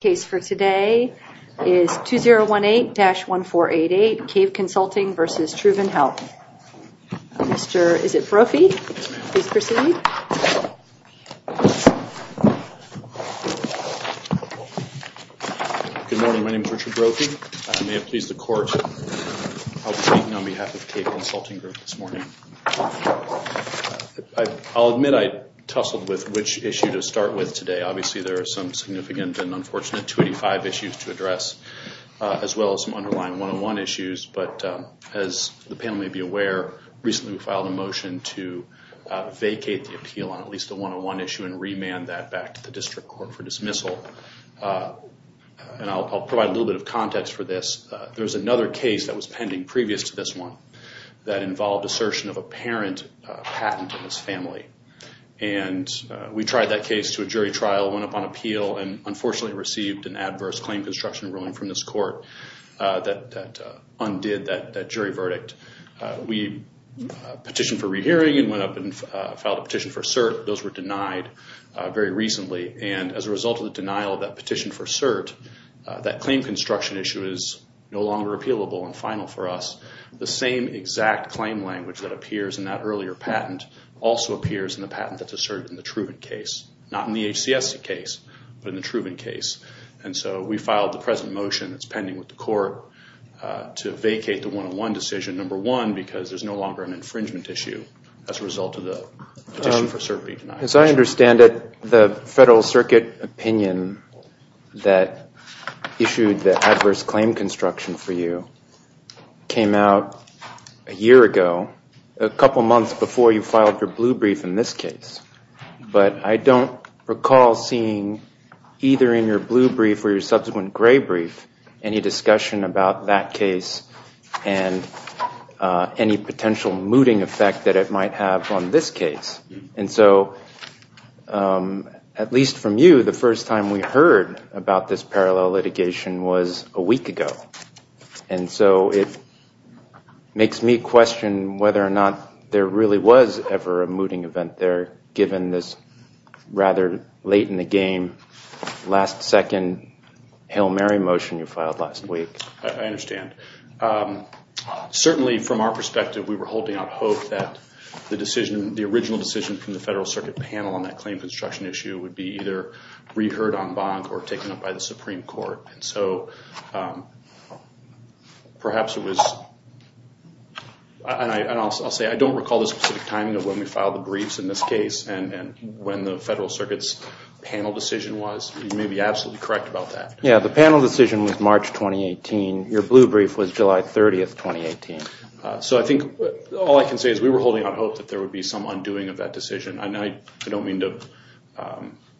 The case for today is 2018-1488, CAVE Consulting v. Truven Health. Mr. Brophy, please proceed. Good morning, my name is Richard Brophy. I may have pleased the court. I'll be speaking on behalf of CAVE Consulting Group this morning. I'll admit I tussled with which issue to start with today. Obviously there are some significant and unfortunate 285 issues to address, as well as some underlying 101 issues. As the panel may be aware, recently we filed a motion to vacate the appeal on at least the 101 issue and remand that back to the district court for dismissal. I'll provide a little bit of context for this. There was another case that was pending previous to this one that involved assertion of a parent patent in his family. We tried that case to a jury trial, went up on appeal, and unfortunately received an adverse claim construction ruling from this court that undid that jury verdict. We petitioned for rehearing and went up and filed a petition for cert. Those were denied very recently. As a result of the denial of that petition for cert, that claim construction issue is no longer appealable and final for us. The same exact claim language that appears in that earlier patent also appears in the patent that's asserted in the Truven case. Not in the HCSC case, but in the Truven case. And so we filed the present motion that's pending with the court to vacate the 101 decision, number one, because there's no longer an infringement issue as a result of the petition for cert being denied. As I understand it, the Federal Circuit opinion that issued the adverse claim construction for you came out a year ago, a couple months before you filed your blue brief in this case. But I don't recall seeing either in your blue brief or your subsequent gray brief any discussion about that case and any potential mooting effect that it might have on this case. And so, at least from you, the first time we heard about this parallel litigation was a week ago. And so it makes me question whether or not there really was ever a mooting event there, given this rather late in the game, last-second Hail Mary motion you filed last week. I understand. Certainly, from our perspective, we were holding out hope that the decision, the original decision from the Federal Circuit panel on that claim construction issue would be either reheard en banc or taken up by the Supreme Court. And so perhaps it was, and I'll say I don't recall the specific timing of when we filed the briefs in this case and when the Federal Circuit's panel decision was. You may be absolutely correct about that. Yeah, the panel decision was March 2018. Your blue brief was July 30, 2018. So I think all I can say is we were holding out hope that there would be some undoing of that decision. I don't mean to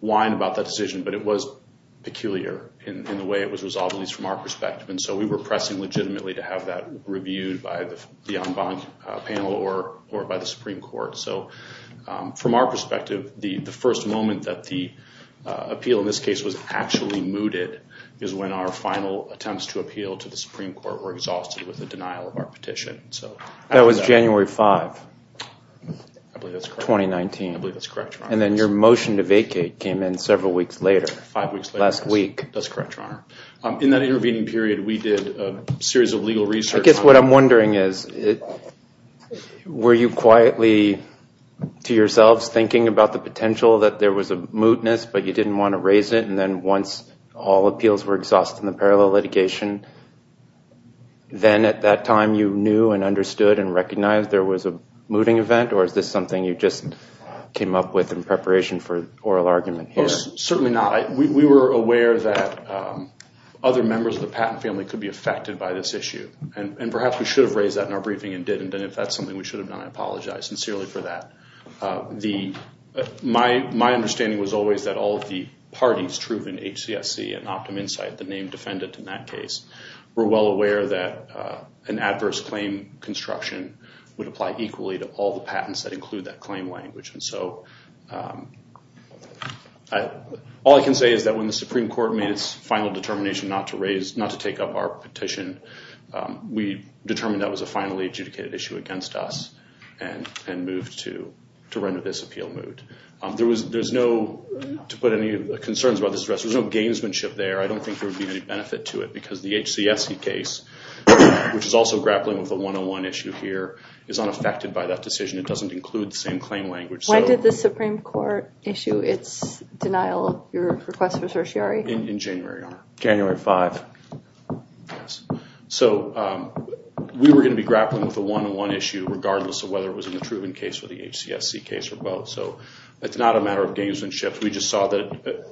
whine about that decision, but it was peculiar in the way it was resolved, at least from our perspective. And so we were pressing legitimately to have that reviewed by the en banc panel or by the Supreme Court. So from our perspective, the first moment that the appeal in this case was actually mooted is when our final attempts to appeal to the Supreme Court were exhausted with the denial of our petition. That was January 5, 2019. I believe that's correct, Your Honor. And then your motion to vacate came in several weeks later. Five weeks later. Last week. That's correct, Your Honor. In that intervening period, we did a series of legal research. I guess what I'm wondering is were you quietly, to yourselves, thinking about the potential that there was a mootness but you didn't want to raise it, and then once all appeals were exhausted in the parallel litigation, then at that time you knew and understood and recognized there was a mooting event? Or is this something you just came up with in preparation for oral argument here? Certainly not. We were aware that other members of the Patton family could be affected by this issue. And perhaps we should have raised that in our briefing and didn't. And if that's something we should have done, I apologize sincerely for that. My understanding was always that all of the parties, Truven HCSC and OptumInsight, the named defendant in that case, were well aware that an adverse claim construction would apply equally to all the patents that include that claim language. And so all I can say is that when the Supreme Court made its final determination not to take up our petition, we determined that was a finally adjudicated issue against us and moved to render this appeal moot. There's no, to put any concerns about this address, there's no gamesmanship there. I don't think there would be any benefit to it because the HCSC case, which is also grappling with a 101 issue here, is unaffected by that decision. It doesn't include the same claim language. When did the Supreme Court issue its denial of your request for certiorari? In January. January 5. So we were going to be grappling with the 101 issue regardless of whether it was in the Truven case or the HCSC case or both. So it's not a matter of gamesmanship. We just saw that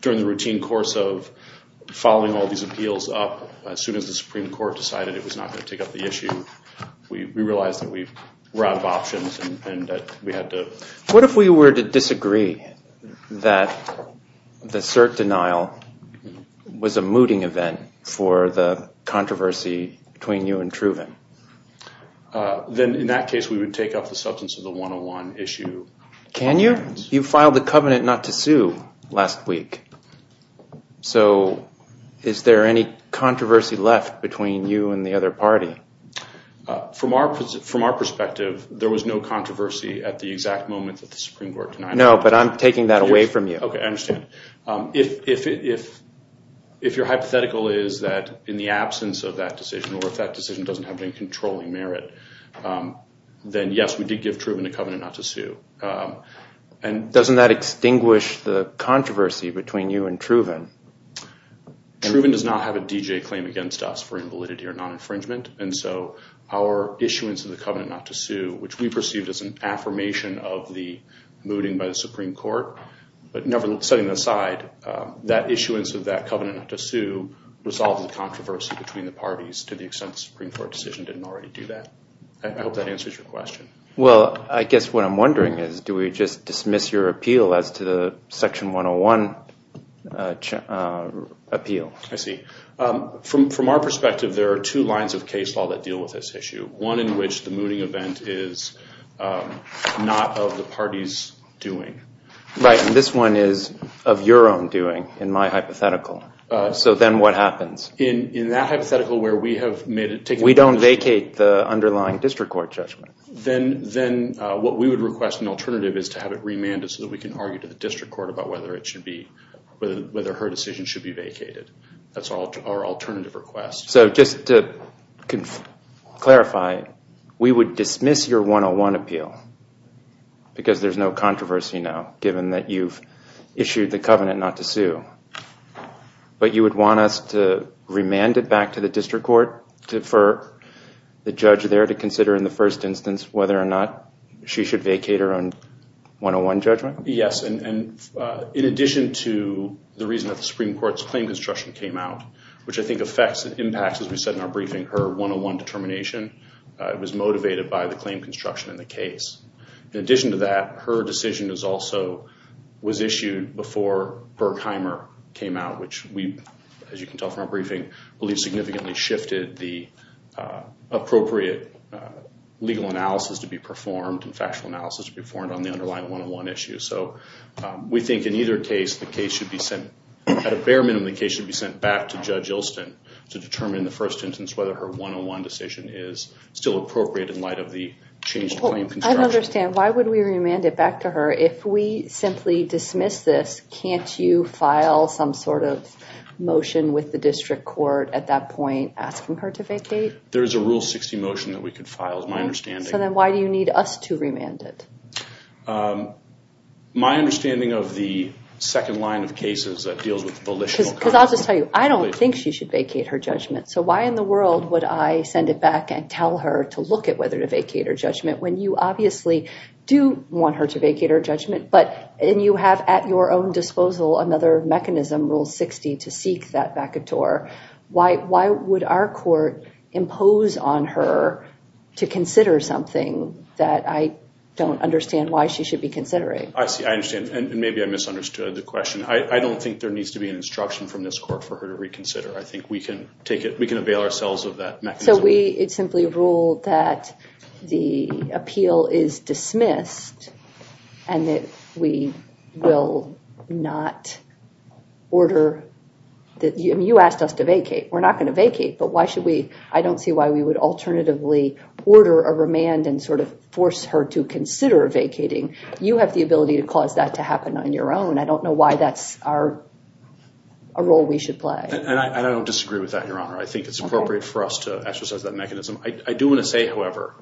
during the routine course of following all these appeals up, as soon as the Supreme Court decided it was not going to take up the issue, we realized that we were out of options and that we had to... What if we were to disagree that the cert denial was a mooting event for the controversy between you and Truven? Then in that case we would take up the substance of the 101 issue. Can you? You filed a covenant not to sue last week. So is there any controversy left between you and the other party? From our perspective, there was no controversy at the exact moment that the Supreme Court denied it. No, but I'm taking that away from you. Okay, I understand. If your hypothetical is that in the absence of that decision or if that decision doesn't have any controlling merit, then yes, we did give Truven a covenant not to sue. Truven does not have a D.J. claim against us for invalidity or non-infringement, and so our issuance of the covenant not to sue, which we perceived as an affirmation of the mooting by the Supreme Court, but setting that aside, that issuance of that covenant not to sue resolved the controversy between the parties to the extent the Supreme Court decision didn't already do that. I hope that answers your question. Well, I guess what I'm wondering is, do we just dismiss your appeal as to the Section 101 appeal? I see. From our perspective, there are two lines of case law that deal with this issue, one in which the mooting event is not of the party's doing. Right, and this one is of your own doing in my hypothetical. So then what happens? In that hypothetical where we have made it taken— We don't vacate the underlying district court judgment. Then what we would request an alternative is to have it remanded so that we can argue to the district court about whether her decision should be vacated. That's our alternative request. So just to clarify, we would dismiss your 101 appeal because there's no controversy now, given that you've issued the covenant not to sue, but you would want us to remand it back to the district court for the judge there to consider in the first instance whether or not she should vacate her own 101 judgment? Yes, and in addition to the reason that the Supreme Court's claim construction came out, which I think affects and impacts, as we said in our briefing, her 101 determination, it was motivated by the claim construction in the case. In addition to that, her decision was issued before Berkheimer came out, which we, as you can tell from our briefing, believe significantly shifted the appropriate legal analysis to be performed and factual analysis to be performed on the underlying 101 issue. So we think in either case, the case should be sent— At a bare minimum, the case should be sent back to Judge Ilston to determine in the first instance whether her 101 decision is still appropriate in light of the changed claim construction. I don't understand. Why would we remand it back to her? If we simply dismiss this, can't you file some sort of motion with the district court at that point asking her to vacate? There is a Rule 60 motion that we could file, is my understanding. So then why do you need us to remand it? My understanding of the second line of cases that deals with volitional— Because I'll just tell you, I don't think she should vacate her judgment. So why in the world would I send it back and tell her to look at whether to vacate her judgment when you obviously do want her to vacate her judgment, but—and you have at your own disposal another mechanism, Rule 60, to seek that vacateur. Why would our court impose on her to consider something that I don't understand why she should be considering? I see. I understand. And maybe I misunderstood the question. I don't think there needs to be an instruction from this court for her to reconsider. I think we can take it—we can avail ourselves of that mechanism. So we simply rule that the appeal is dismissed and that we will not order— I mean, you asked us to vacate. We're not going to vacate. But why should we—I don't see why we would alternatively order a remand and sort of force her to consider vacating. You have the ability to cause that to happen on your own. I don't know why that's our—a role we should play. And I don't disagree with that, Your Honor. I think it's appropriate for us to exercise that mechanism. I do want to say, however,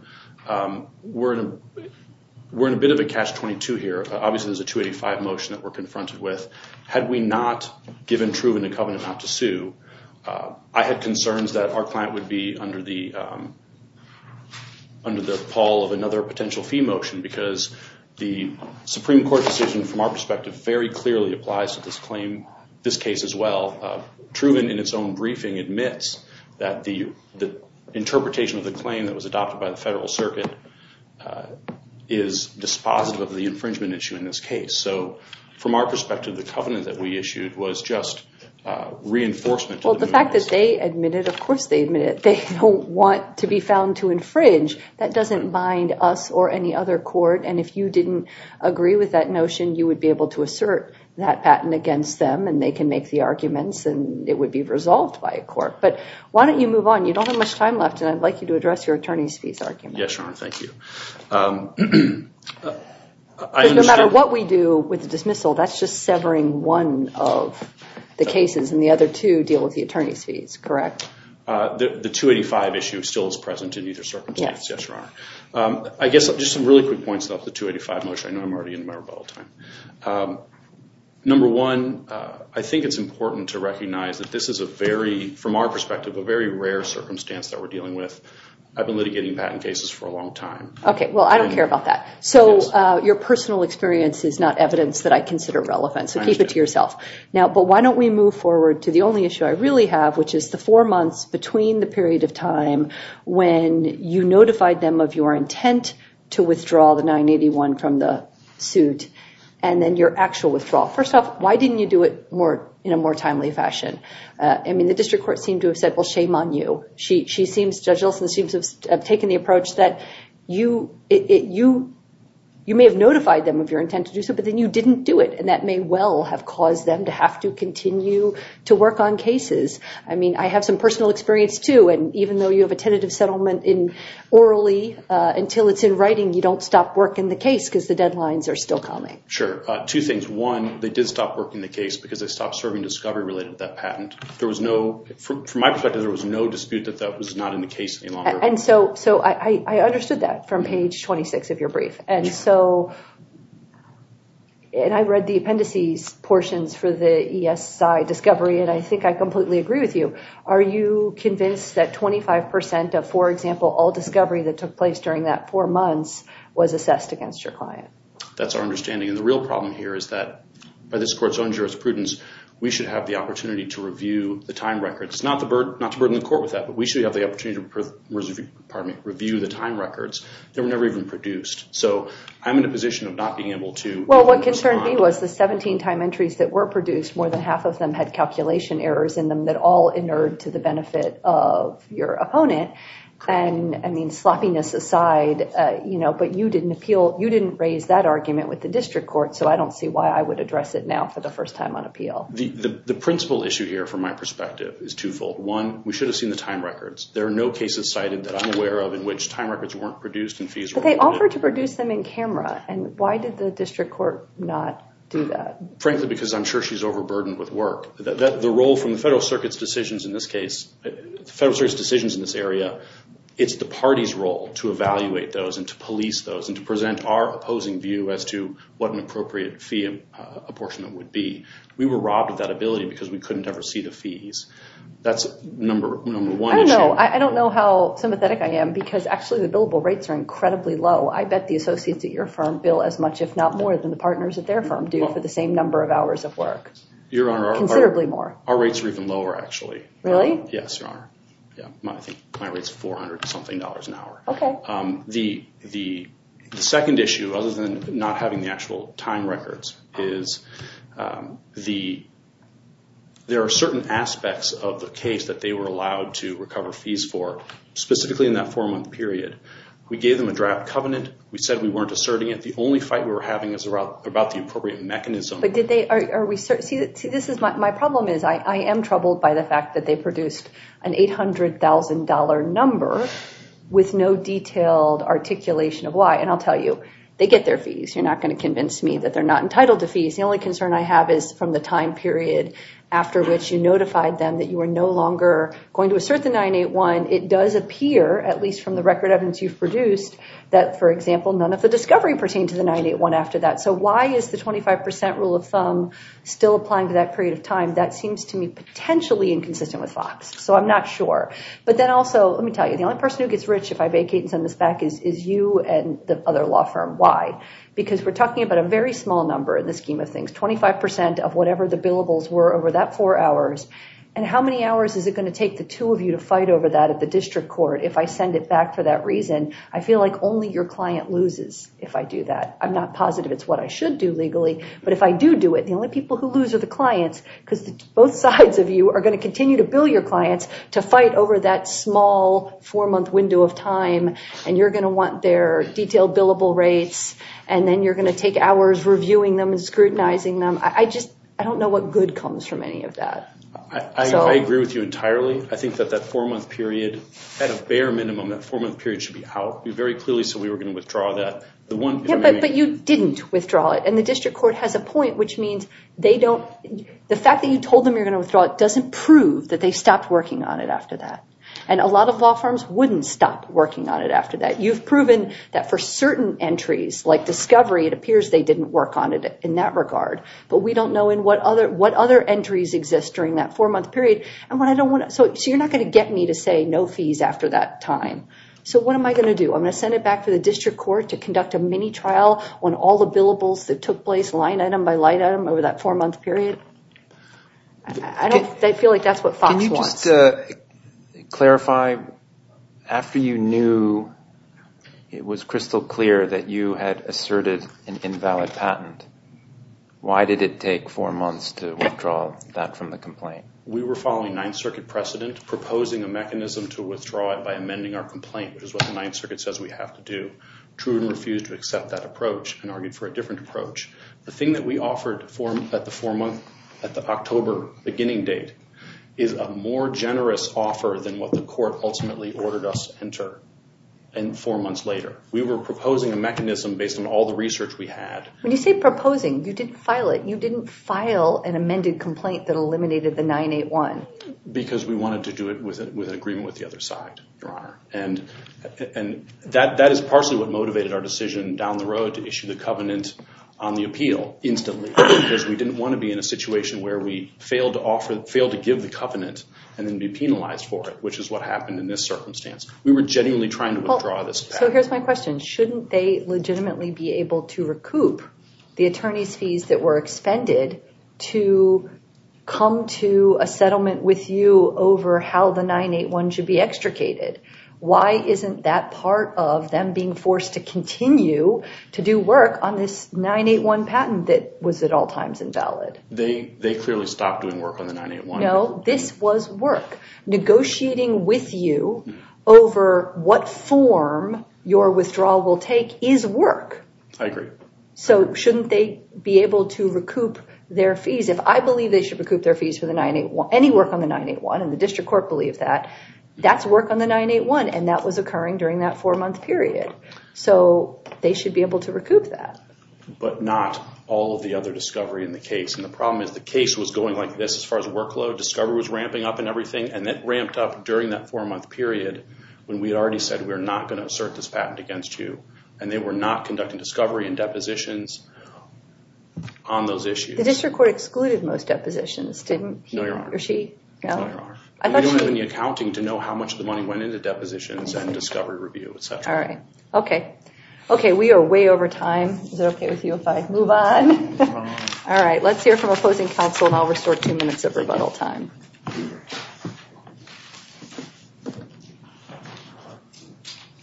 we're in a bit of a catch-22 here. Obviously, there's a 285 motion that we're confronted with. Had we not given Truven a covenant not to sue, I had concerns that our client would be under the— under the pall of another potential fee motion because the Supreme Court decision from our perspective very clearly applies to this claim—this case as well. Truven, in its own briefing, admits that the interpretation of the claim that was adopted by the Federal Circuit is dispositive of the infringement issue in this case. So from our perspective, the covenant that we issued was just reinforcement. Well, the fact that they admit it, of course they admit it. They don't want to be found to infringe. That doesn't bind us or any other court. And if you didn't agree with that notion, you would be able to assert that patent against them and they can make the arguments and it would be resolved by a court. But why don't you move on? You don't have much time left, and I'd like you to address your attorney's fees argument. Yes, Your Honor. Thank you. No matter what we do with the dismissal, that's just severing one of the cases and the other two deal with the attorney's fees, correct? The 285 issue still is present in either circumstance. Yes, Your Honor. I guess just some really quick points about the 285 motion. I know I'm already in my rebuttal time. Number one, I think it's important to recognize that this is a very, from our perspective, a very rare circumstance that we're dealing with. I've been litigating patent cases for a long time. Okay. Well, I don't care about that. So your personal experience is not evidence that I consider relevant, so keep it to yourself. But why don't we move forward to the only issue I really have, which is the four months between the period of time when you notified them of your intent to withdraw the 981 from the suit and then your actual withdrawal. First off, why didn't you do it in a more timely fashion? I mean, the district court seemed to have said, well, shame on you. Judge Olson seems to have taken the approach that you may have notified them of your intent to do so, but then you didn't do it, and that may well have caused them to have to continue to work on cases. I mean, I have some personal experience, too, and even though you have a tentative settlement orally until it's in writing, you don't stop work in the case because the deadlines are still coming. Sure. Two things. One, they did stop work in the case because they stopped serving discovery related to that patent. From my perspective, there was no dispute that that was not in the case any longer. And so I understood that from page 26 of your brief. And I read the appendices portions for the ESI discovery, and I think I completely agree with you. Are you convinced that 25% of, for example, all discovery that took place during that four months was assessed against your client? That's our understanding. And the real problem here is that by this court's own jurisprudence, we should have the opportunity to review the time records. Not to burden the court with that, but we should have the opportunity to review the time records that were never even produced. So I'm in a position of not being able to. Well, what concerned me was the 17 time entries that were produced, more than half of them had calculation errors in them that all inerred to the benefit of your opponent. And, I mean, sloppiness aside, you know, but you didn't appeal, you didn't raise that argument with the district court, so I don't see why I would address it now for the first time on appeal. The principal issue here, from my perspective, is twofold. One, we should have seen the time records. There are no cases cited that I'm aware of in which time records weren't produced. But they offered to produce them in camera, and why did the district court not do that? Frankly, because I'm sure she's overburdened with work. The role from the Federal Circuit's decisions in this case, the Federal Circuit's decisions in this area, it's the party's role to evaluate those and to police those and to present our opposing view as to what an appropriate fee apportionment would be. We were robbed of that ability because we couldn't ever see the fees. That's number one issue. I don't know. I don't know how sympathetic I am because, actually, the billable rates are incredibly low. I bet the associates at your firm bill as much, if not more, than the partners at their firm do for the same number of hours of work, considerably more. Your Honor, our rates are even lower, actually. Really? Yes, Your Honor. I think my rate's $400-something an hour. Okay. The second issue, other than not having the actual time records, is there are certain aspects of the case that they were allowed to recover fees for, specifically in that four-month period. We gave them a draft covenant. We said we weren't asserting it. The only fight we were having was about the appropriate mechanism. My problem is I am troubled by the fact that they produced an $800,000 number with no detailed articulation of why. And I'll tell you, they get their fees. You're not going to convince me that they're not entitled to fees. The only concern I have is from the time period after which you notified them that you were no longer going to assert the 981. It does appear, at least from the record evidence you've produced, that, for example, none of the discovery pertained to the 981 after that. So why is the 25% rule of thumb still applying to that period of time? That seems to me potentially inconsistent with FOX, so I'm not sure. But then also, let me tell you, the only person who gets rich if I vacate and send this back is you and the other law firm. Why? Because we're talking about a very small number in the scheme of things, 25% of whatever the billables were over that four hours. And how many hours is it going to take the two of you to fight over that at the district court if I send it back for that reason? I feel like only your client loses if I do that. I'm not positive it's what I should do legally. But if I do do it, the only people who lose are the clients, because both sides of you are going to continue to bill your clients to fight over that small four-month window of time, and you're going to want their detailed billable rates, and then you're going to take hours reviewing them and scrutinizing them. I just don't know what good comes from any of that. I agree with you entirely. I think that that four-month period, at a bare minimum, that four-month period should be out very clearly, so we were going to withdraw that. But you didn't withdraw it, and the district court has a point, which means the fact that you told them you were going to withdraw it doesn't prove that they stopped working on it after that. And a lot of law firms wouldn't stop working on it after that. You've proven that for certain entries, like discovery, it appears they didn't work on it in that regard. But we don't know what other entries exist during that four-month period. So you're not going to get me to say no fees after that time. So what am I going to do? I'm going to send it back to the district court to conduct a mini-trial on all the billables that took place, line item by line item, over that four-month period? I feel like that's what FOX wants. Can you just clarify, after you knew it was crystal clear that you had asserted an invalid patent, why did it take four months to withdraw that from the complaint? We were following Ninth Circuit precedent, proposing a mechanism to withdraw it by amending our complaint, which is what the Ninth Circuit says we have to do. Truden refused to accept that approach and argued for a different approach. The thing that we offered at the October beginning date is a more generous offer than what the court ultimately ordered us to enter. And four months later, we were proposing a mechanism based on all the research we had. When you say proposing, you didn't file it. Because we wanted to do it with an agreement with the other side, Your Honor. And that is partially what motivated our decision down the road to issue the covenant on the appeal instantly, because we didn't want to be in a situation where we failed to give the covenant and then be penalized for it, which is what happened in this circumstance. We were genuinely trying to withdraw this patent. So here's my question. Shouldn't they legitimately be able to recoup the attorney's fees that were expended to come to a settlement with you over how the 981 should be extricated? Why isn't that part of them being forced to continue to do work on this 981 patent that was at all times invalid? They clearly stopped doing work on the 981. No, this was work. Negotiating with you over what form your withdrawal will take is work. I agree. So shouldn't they be able to recoup their fees? If I believe they should recoup their fees for any work on the 981, and the district court believes that, that's work on the 981, and that was occurring during that four-month period. So they should be able to recoup that. But not all of the other discovery in the case. And the problem is the case was going like this as far as workload. Discovery was ramping up and everything, and it ramped up during that four-month period when we already said we're not going to assert this patent against you. And they were not conducting discovery and depositions on those issues. The district court excluded most depositions, didn't he or she? No, there are. They don't have any accounting to know how much of the money went into depositions and discovery review, et cetera. All right. Okay. Okay, we are way over time. Is it okay with you if I move on? All right. Let's hear from opposing counsel, and I'll restore two minutes of rebuttal time.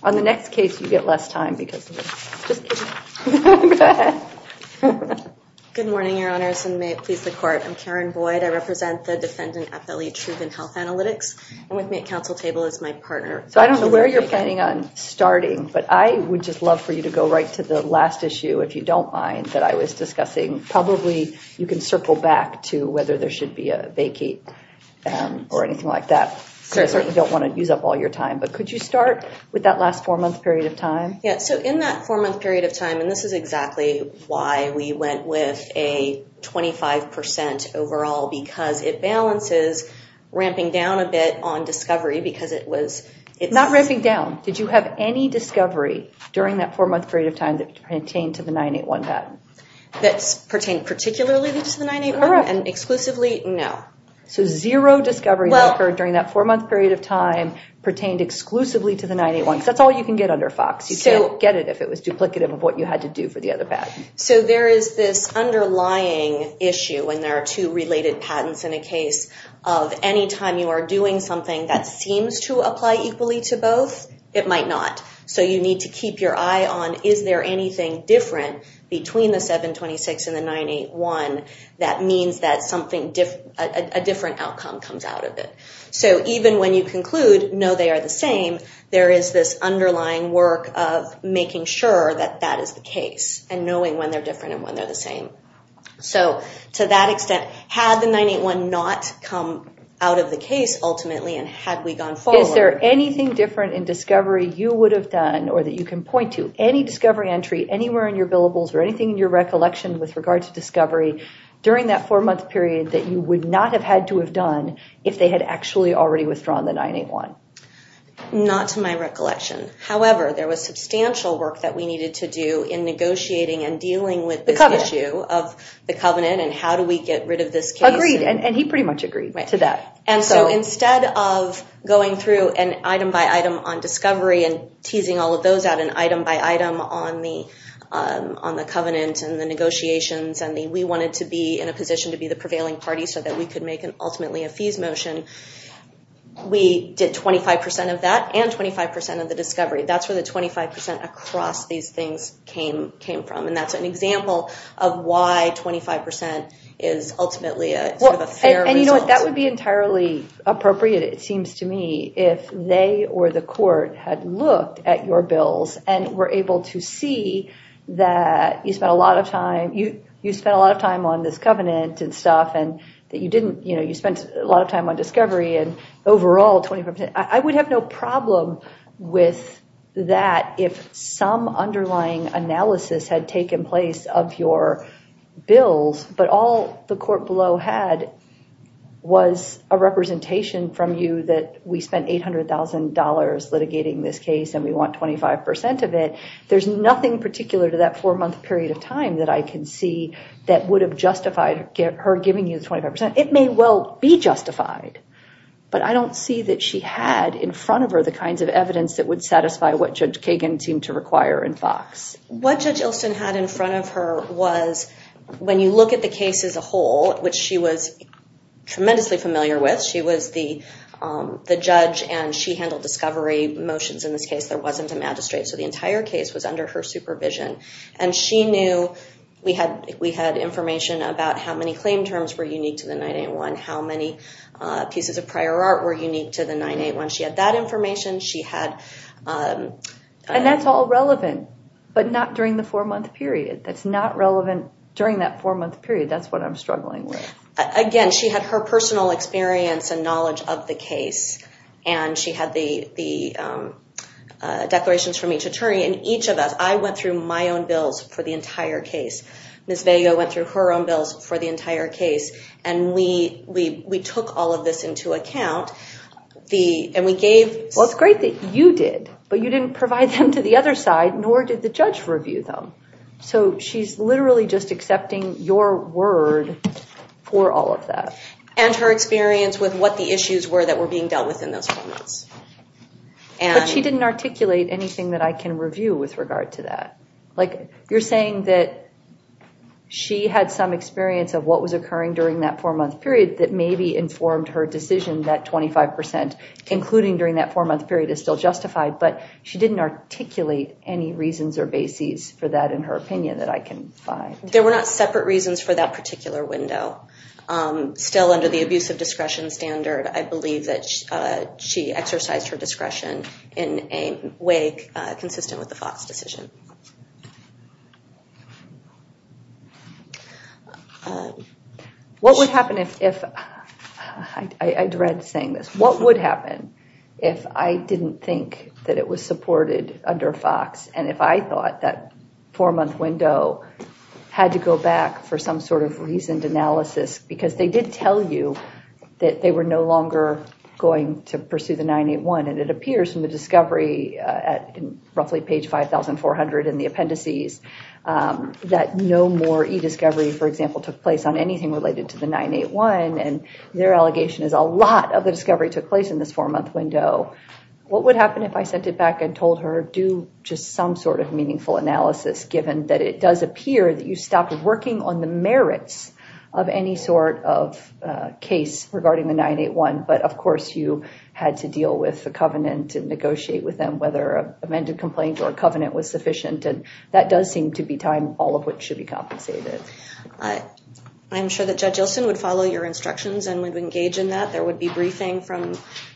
On the next case, you get less time because of this. Just kidding. Go ahead. Good morning, Your Honors, and may it please the court. I'm Karen Boyd. I represent the defendant, FLE Truven Health Analytics, and with me at counsel table is my partner. So I don't know where you're planning on starting, but I would just love for you to go right to the last issue, if you don't mind, that I was discussing. Probably you can circle back to whether there should be a vacate or anything like that. I certainly don't want to use up all your time, but could you start with that last four-month period of time? Yes. So in that four-month period of time, and this is exactly why we went with a 25% overall, because it balances ramping down a bit on discovery because it was. Not ramping down. Did you have any discovery during that four-month period of time that pertained to the 981 bet? That pertained particularly to the 981 and exclusively? No. So zero discovery that occurred during that four-month period of time pertained exclusively to the 981. That's all you can get under FOX. You can't get it if it was duplicative of what you had to do for the other patent. So there is this underlying issue when there are two related patents in a case of any time you are doing something that seems to apply equally to both, it might not. So you need to keep your eye on is there anything different between the 726 and the 981. That means that a different outcome comes out of it. So even when you conclude no, they are the same, there is this underlying work of making sure that that is the case and knowing when they're different and when they're the same. So to that extent, had the 981 not come out of the case ultimately and had we gone forward? Is there anything different in discovery you would have done or that you can point to? Any discovery entry anywhere in your billables or anything in your during that four month period that you would not have had to have done if they had actually already withdrawn the 981? Not to my recollection. However, there was substantial work that we needed to do in negotiating and dealing with this issue of the covenant and how do we get rid of this case. Agreed. And he pretty much agreed to that. And so instead of going through an item by item on discovery and teasing all of those out an item by item on the covenant and the negotiations and we wanted to be in a position to be the prevailing party so that we could make an ultimately a fees motion. We did 25% of that and 25% of the discovery. That's where the 25% across these things came from. And that's an example of why 25% is ultimately a fair result. And you know what? That would be entirely appropriate. It seems to me if they or the court had looked at your bills and were able to see that you spent a lot of time, you spent a lot of time on this covenant and stuff and that you didn't, you know, you spent a lot of time on discovery and overall 25% I would have no problem with that. If some underlying analysis had taken place of your bills, but all the court below had was a representation from you that we spent $800,000 litigating this case and we want 25% of it. There's nothing particular to that four month period of time that I can see that would have justified her giving you the 25%. It may well be justified, but I don't see that she had in front of her the kinds of evidence that would satisfy what Judge Kagan seemed to require in Fox. What Judge Ilsen had in front of her was when you look at the case as a whole, which she was tremendously familiar with, she was the judge and she handled discovery motions in this case. There wasn't a magistrate. So the entire case was under her supervision and she knew we had information about how many claim terms were unique to the 981, how many pieces of prior art were unique to the 981. She had that information. She had... And that's all relevant, but not during the four month period. That's not relevant during that four month period. That's what I'm struggling with. Again, she had her personal experience and knowledge of the case and she had the knowledge of each attorney and each of us. I went through my own bills for the entire case. Ms. Vega went through her own bills for the entire case and we took all of this into account and we gave... Well, it's great that you did, but you didn't provide them to the other side, nor did the judge review them. So she's literally just accepting your word for all of that. And her experience with what the issues were that were being dealt with in those four months. But she didn't articulate anything that I can review with regard to that. You're saying that she had some experience of what was occurring during that four month period that maybe informed her decision that 25%, including during that four month period, is still justified, but she didn't articulate any reasons or bases for that in her opinion that I can find. There were not separate reasons for that particular window. Still under the abuse of discretion standard, I believe that she exercised her discretion in a way consistent with the Fox decision. What would happen if... I dread saying this. What would happen if I didn't think that it was supported under Fox? And if I thought that four month window had to go back for some sort of reasoned analysis, because they did tell you that they were no longer going to pursue the 981. And it appears from the discovery at roughly page 5,400 in the appendices, that no more e-discovery, for example, took place on anything related to the 981. And their allegation is a lot of the discovery took place in this four month window. What would happen if I sent it back and told her, do just some sort of meaningful analysis, given that it does appear that you stopped working on the merits of any sort of case regarding the 981. But of course you had to deal with the covenant and negotiate with them, whether an amended complaint or a covenant was sufficient. And that does seem to be time, all of which should be compensated. I'm sure that Judge Ilsen would follow your instructions and would engage in that. There would be briefing from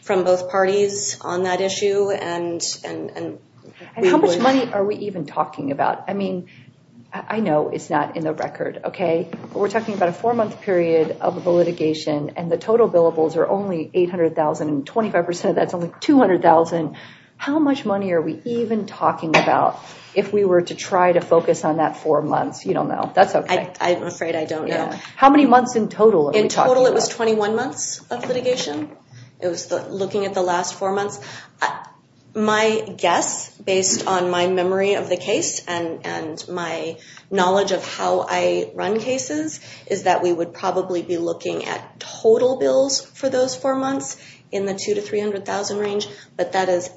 both parties on that issue. And how much money are we even talking about? I mean, I know it's not in the record, okay? But we're talking about a four month period of litigation and the total billables are only $800,000 and 25% of that's only $200,000. How much money are we even talking about if we were to try to focus on that four months? You don't know. That's okay. I'm afraid I don't know. How many months in total? In total it was 21 months of litigation. It was looking at the last four months. My guess based on my memory of the case and my knowledge of how I run cases is that we would probably be looking at total bills for those four months in the $200,000 to $300,000 range. But that is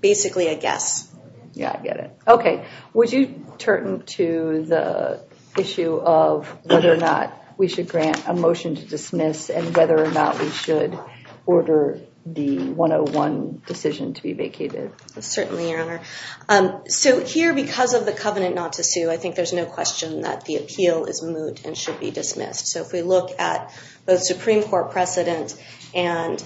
basically a guess. Yeah, I get it. Okay. Would you turn to the issue of whether or not we should grant a motion to vacate? Certainly, Your Honor. So here because of the covenant not to sue, I think there's no question that the appeal is moot and should be dismissed. So if we look at the Supreme Court precedent and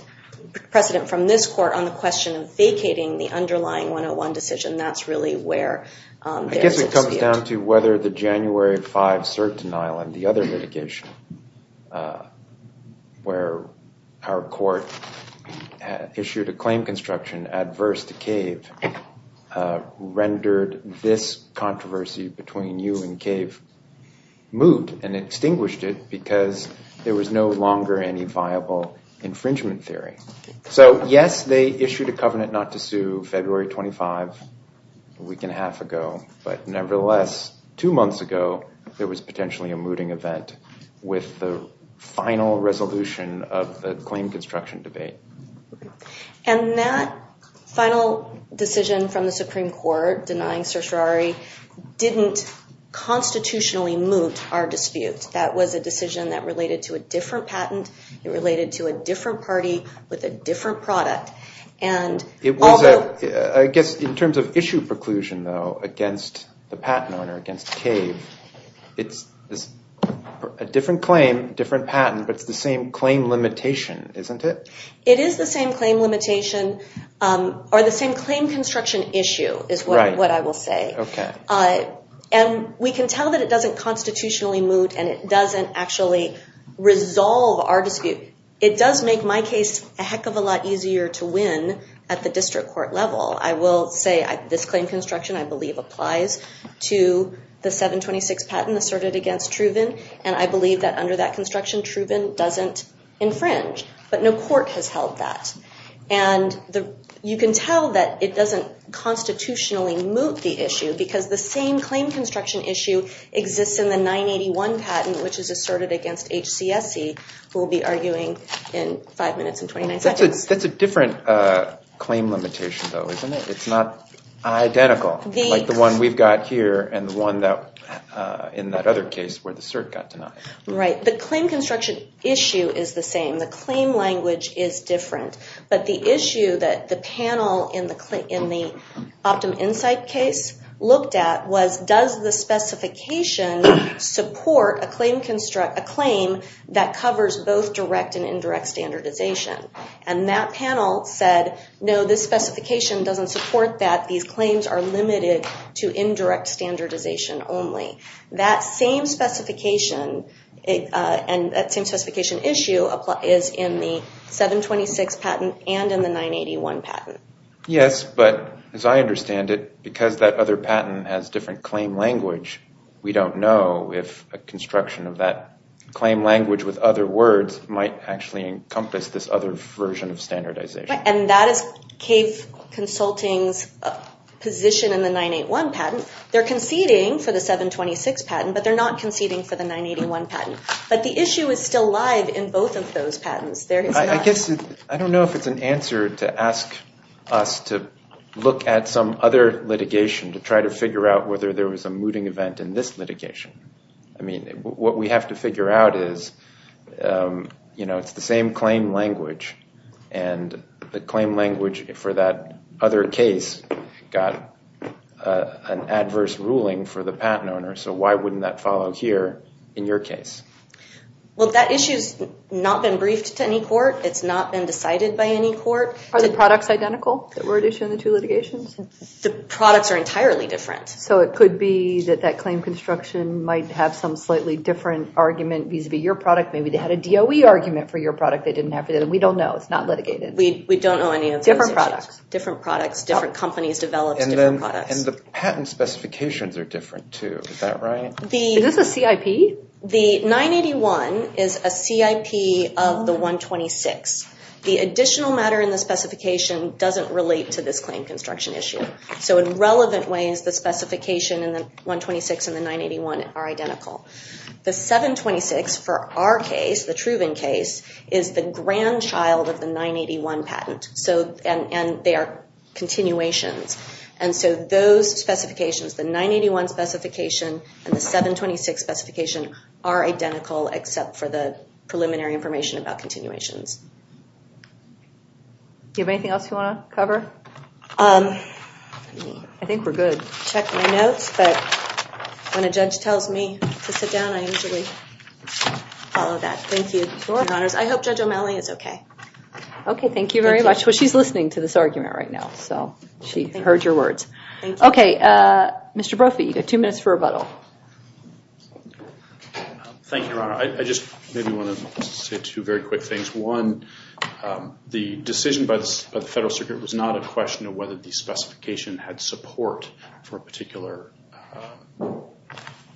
precedent from this court on the question of vacating the underlying 101 decision, that's really where there is dispute. I guess it comes down to whether the January 5 cert denial and the other litigation where our court issued a claim construction adverse to CAVE rendered this controversy between you and CAVE moot and extinguished it because there was no longer any viable infringement theory. So yes, they issued a covenant not to sue February 25, a week and a half ago. But nevertheless, two months ago, there was potentially a mooting event with the final resolution of the claim construction debate. And that final decision from the Supreme Court denying certiorari didn't constitutionally moot our dispute. That was a decision that related to a different patent. It related to a different party with a different product. I guess in terms of issue preclusion, though, against the patent owner, against CAVE, it's a different claim, different patent, but it's the same claim limitation, isn't it? It is the same claim limitation or the same claim construction issue is what I will say. And we can tell that it doesn't constitutionally moot and it doesn't actually resolve our dispute. It does make my case a heck of a lot easier to win at the district court level. I will say this claim construction, I believe, applies to the 726 patent asserted against Truven. And I believe that under that construction, Truven doesn't infringe. But no court has held that. And you can tell that it doesn't constitutionally moot the issue because the same claim construction issue exists in the 981 patent, which is asserted against HCSC, who will be arguing in five minutes and 29 seconds. That's a different claim limitation, though, isn't it? It's not identical, like the one we've got here and the one that in that other case where the cert got denied. Right. The claim construction issue is the same. The claim language is different. But the issue that the panel in the OptumInsight case looked at was, does the specification support a claim that covers both direct and indirect standardization? And that panel said, no, this specification doesn't support that. These claims are limited to indirect standardization only. That same specification issue is in the 726 patent and in the 981 patent. Yes, but as I understand it, because that other patent has different claim language, we don't know if a construction of that claim language with other words might actually encompass this other version of standardization. And that is CAVE Consulting's position in the 981 patent. They're conceding for the 726 patent, but they're not conceding for the 981 patent. But the issue is still alive in both of those patents. I don't know if it's an answer to ask us to look at some other litigation to try to figure out whether there was a mooting event in this litigation. I mean, what we have to figure out is it's the same claim language, and the claim language for that other case got an adverse ruling for the patent owner. So why wouldn't that follow here in your case? Well, that issue has not been briefed to any court. It's not been decided by any court. Are the products identical that were at issue in the two litigations? The products are entirely different. So it could be that that claim construction might have some slightly different argument vis-a-vis your product. Maybe they had a DOE argument for your product. They didn't have it, and we don't know. It's not litigated. We don't know any of those issues. Different products. Different products, different companies developed different products. And the patent specifications are different, too. Is that right? Is this a CIP? The 981 is a CIP of the 126. The additional matter in the specification doesn't relate to this claim construction issue. So in relevant ways, the specification in the 126 and the 981 are identical. The 726 for our case, the Truven case, is the grandchild of the 981 patent, and they are continuations. And so those specifications, the 981 specification and the 726 specification are identical, except for the preliminary information about continuations. Do you have anything else you want to cover? I think we're good. Check my notes, but when a judge tells me to sit down, I usually follow that. Thank you, Your Honors. I hope Judge O'Malley is okay. Okay, thank you very much. Well, she's listening to this argument right now, so she heard your words. Thank you. Okay, Mr. Brophy, you've got two minutes for rebuttal. Thank you, Your Honor. I just maybe want to say two very quick things. One, the decision by the Federal Circuit was not a question of whether the specification had support for a particular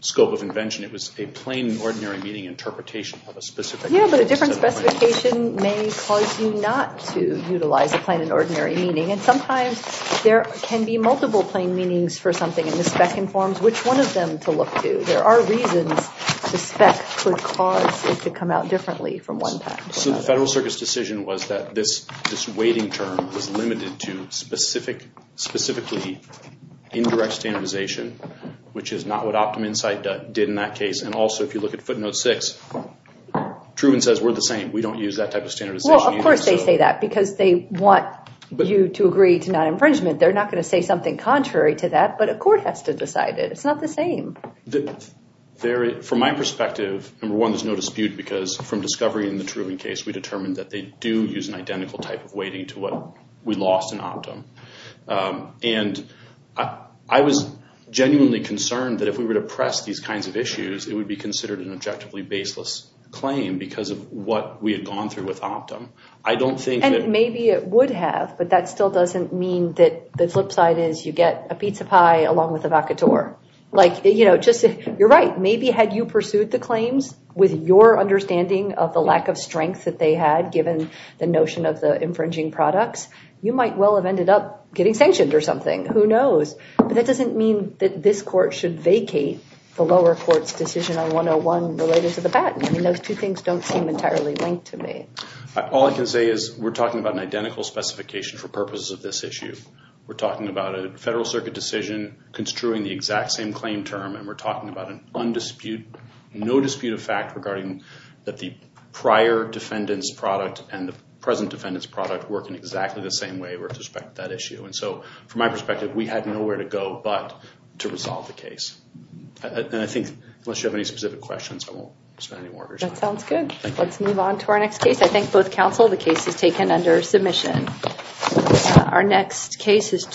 scope of invention. It was a plain and ordinary meaning interpretation of a specific case. Yeah, but a different specification may cause you not to utilize a plain and ordinary meaning. And sometimes there can be multiple plain meanings for something, and the spec informs which one of them to look to. There are reasons the spec could cause it to come out differently from one. So the Federal Circuit's decision was that this waiting term was limited to specifically indirect standardization, which is not what OptumInsight did in that case. And also, if you look at footnote 6, Truman says we're the same. We don't use that type of standardization. Well, of course they say that because they want you to agree to non-infringement. They're not going to say something contrary to that, but a court has to decide it. It's not the same. From my perspective, number one, there's no dispute because from discovery in the Truman case, we determined that they do use an identical type of waiting to what we lost in Optum. And I was genuinely concerned that if we were to press these kinds of issues, it would be considered an objectively baseless claim because of what we had gone through with Optum. And maybe it would have, but that still doesn't mean that the flip side is you get a pizza pie along with a vacatur. You're right. Maybe had you pursued the claims with your understanding of the lack of strength that they had given the notion of the infringing products, you might well have ended up getting sanctioned or something. Who knows? But that doesn't mean that this court should vacate the lower court's decision on 101 related to the baton. Those two things don't seem entirely linked to me. All I can say is we're talking about an identical specification for purposes of this issue. We're talking about a federal circuit decision construing the exact same claim term, and we're talking about an undisputed, no dispute of fact regarding that the prior defendant's product and the present defendant's product work in exactly the same way with respect to that issue. And so from my perspective, we had nowhere to go but to resolve the case. And I think unless you have any specific questions, I won't spend any more time. That sounds good. Thank you. Let's move on to our next case. I thank both counsel. The case is taken under submission. Our next case is.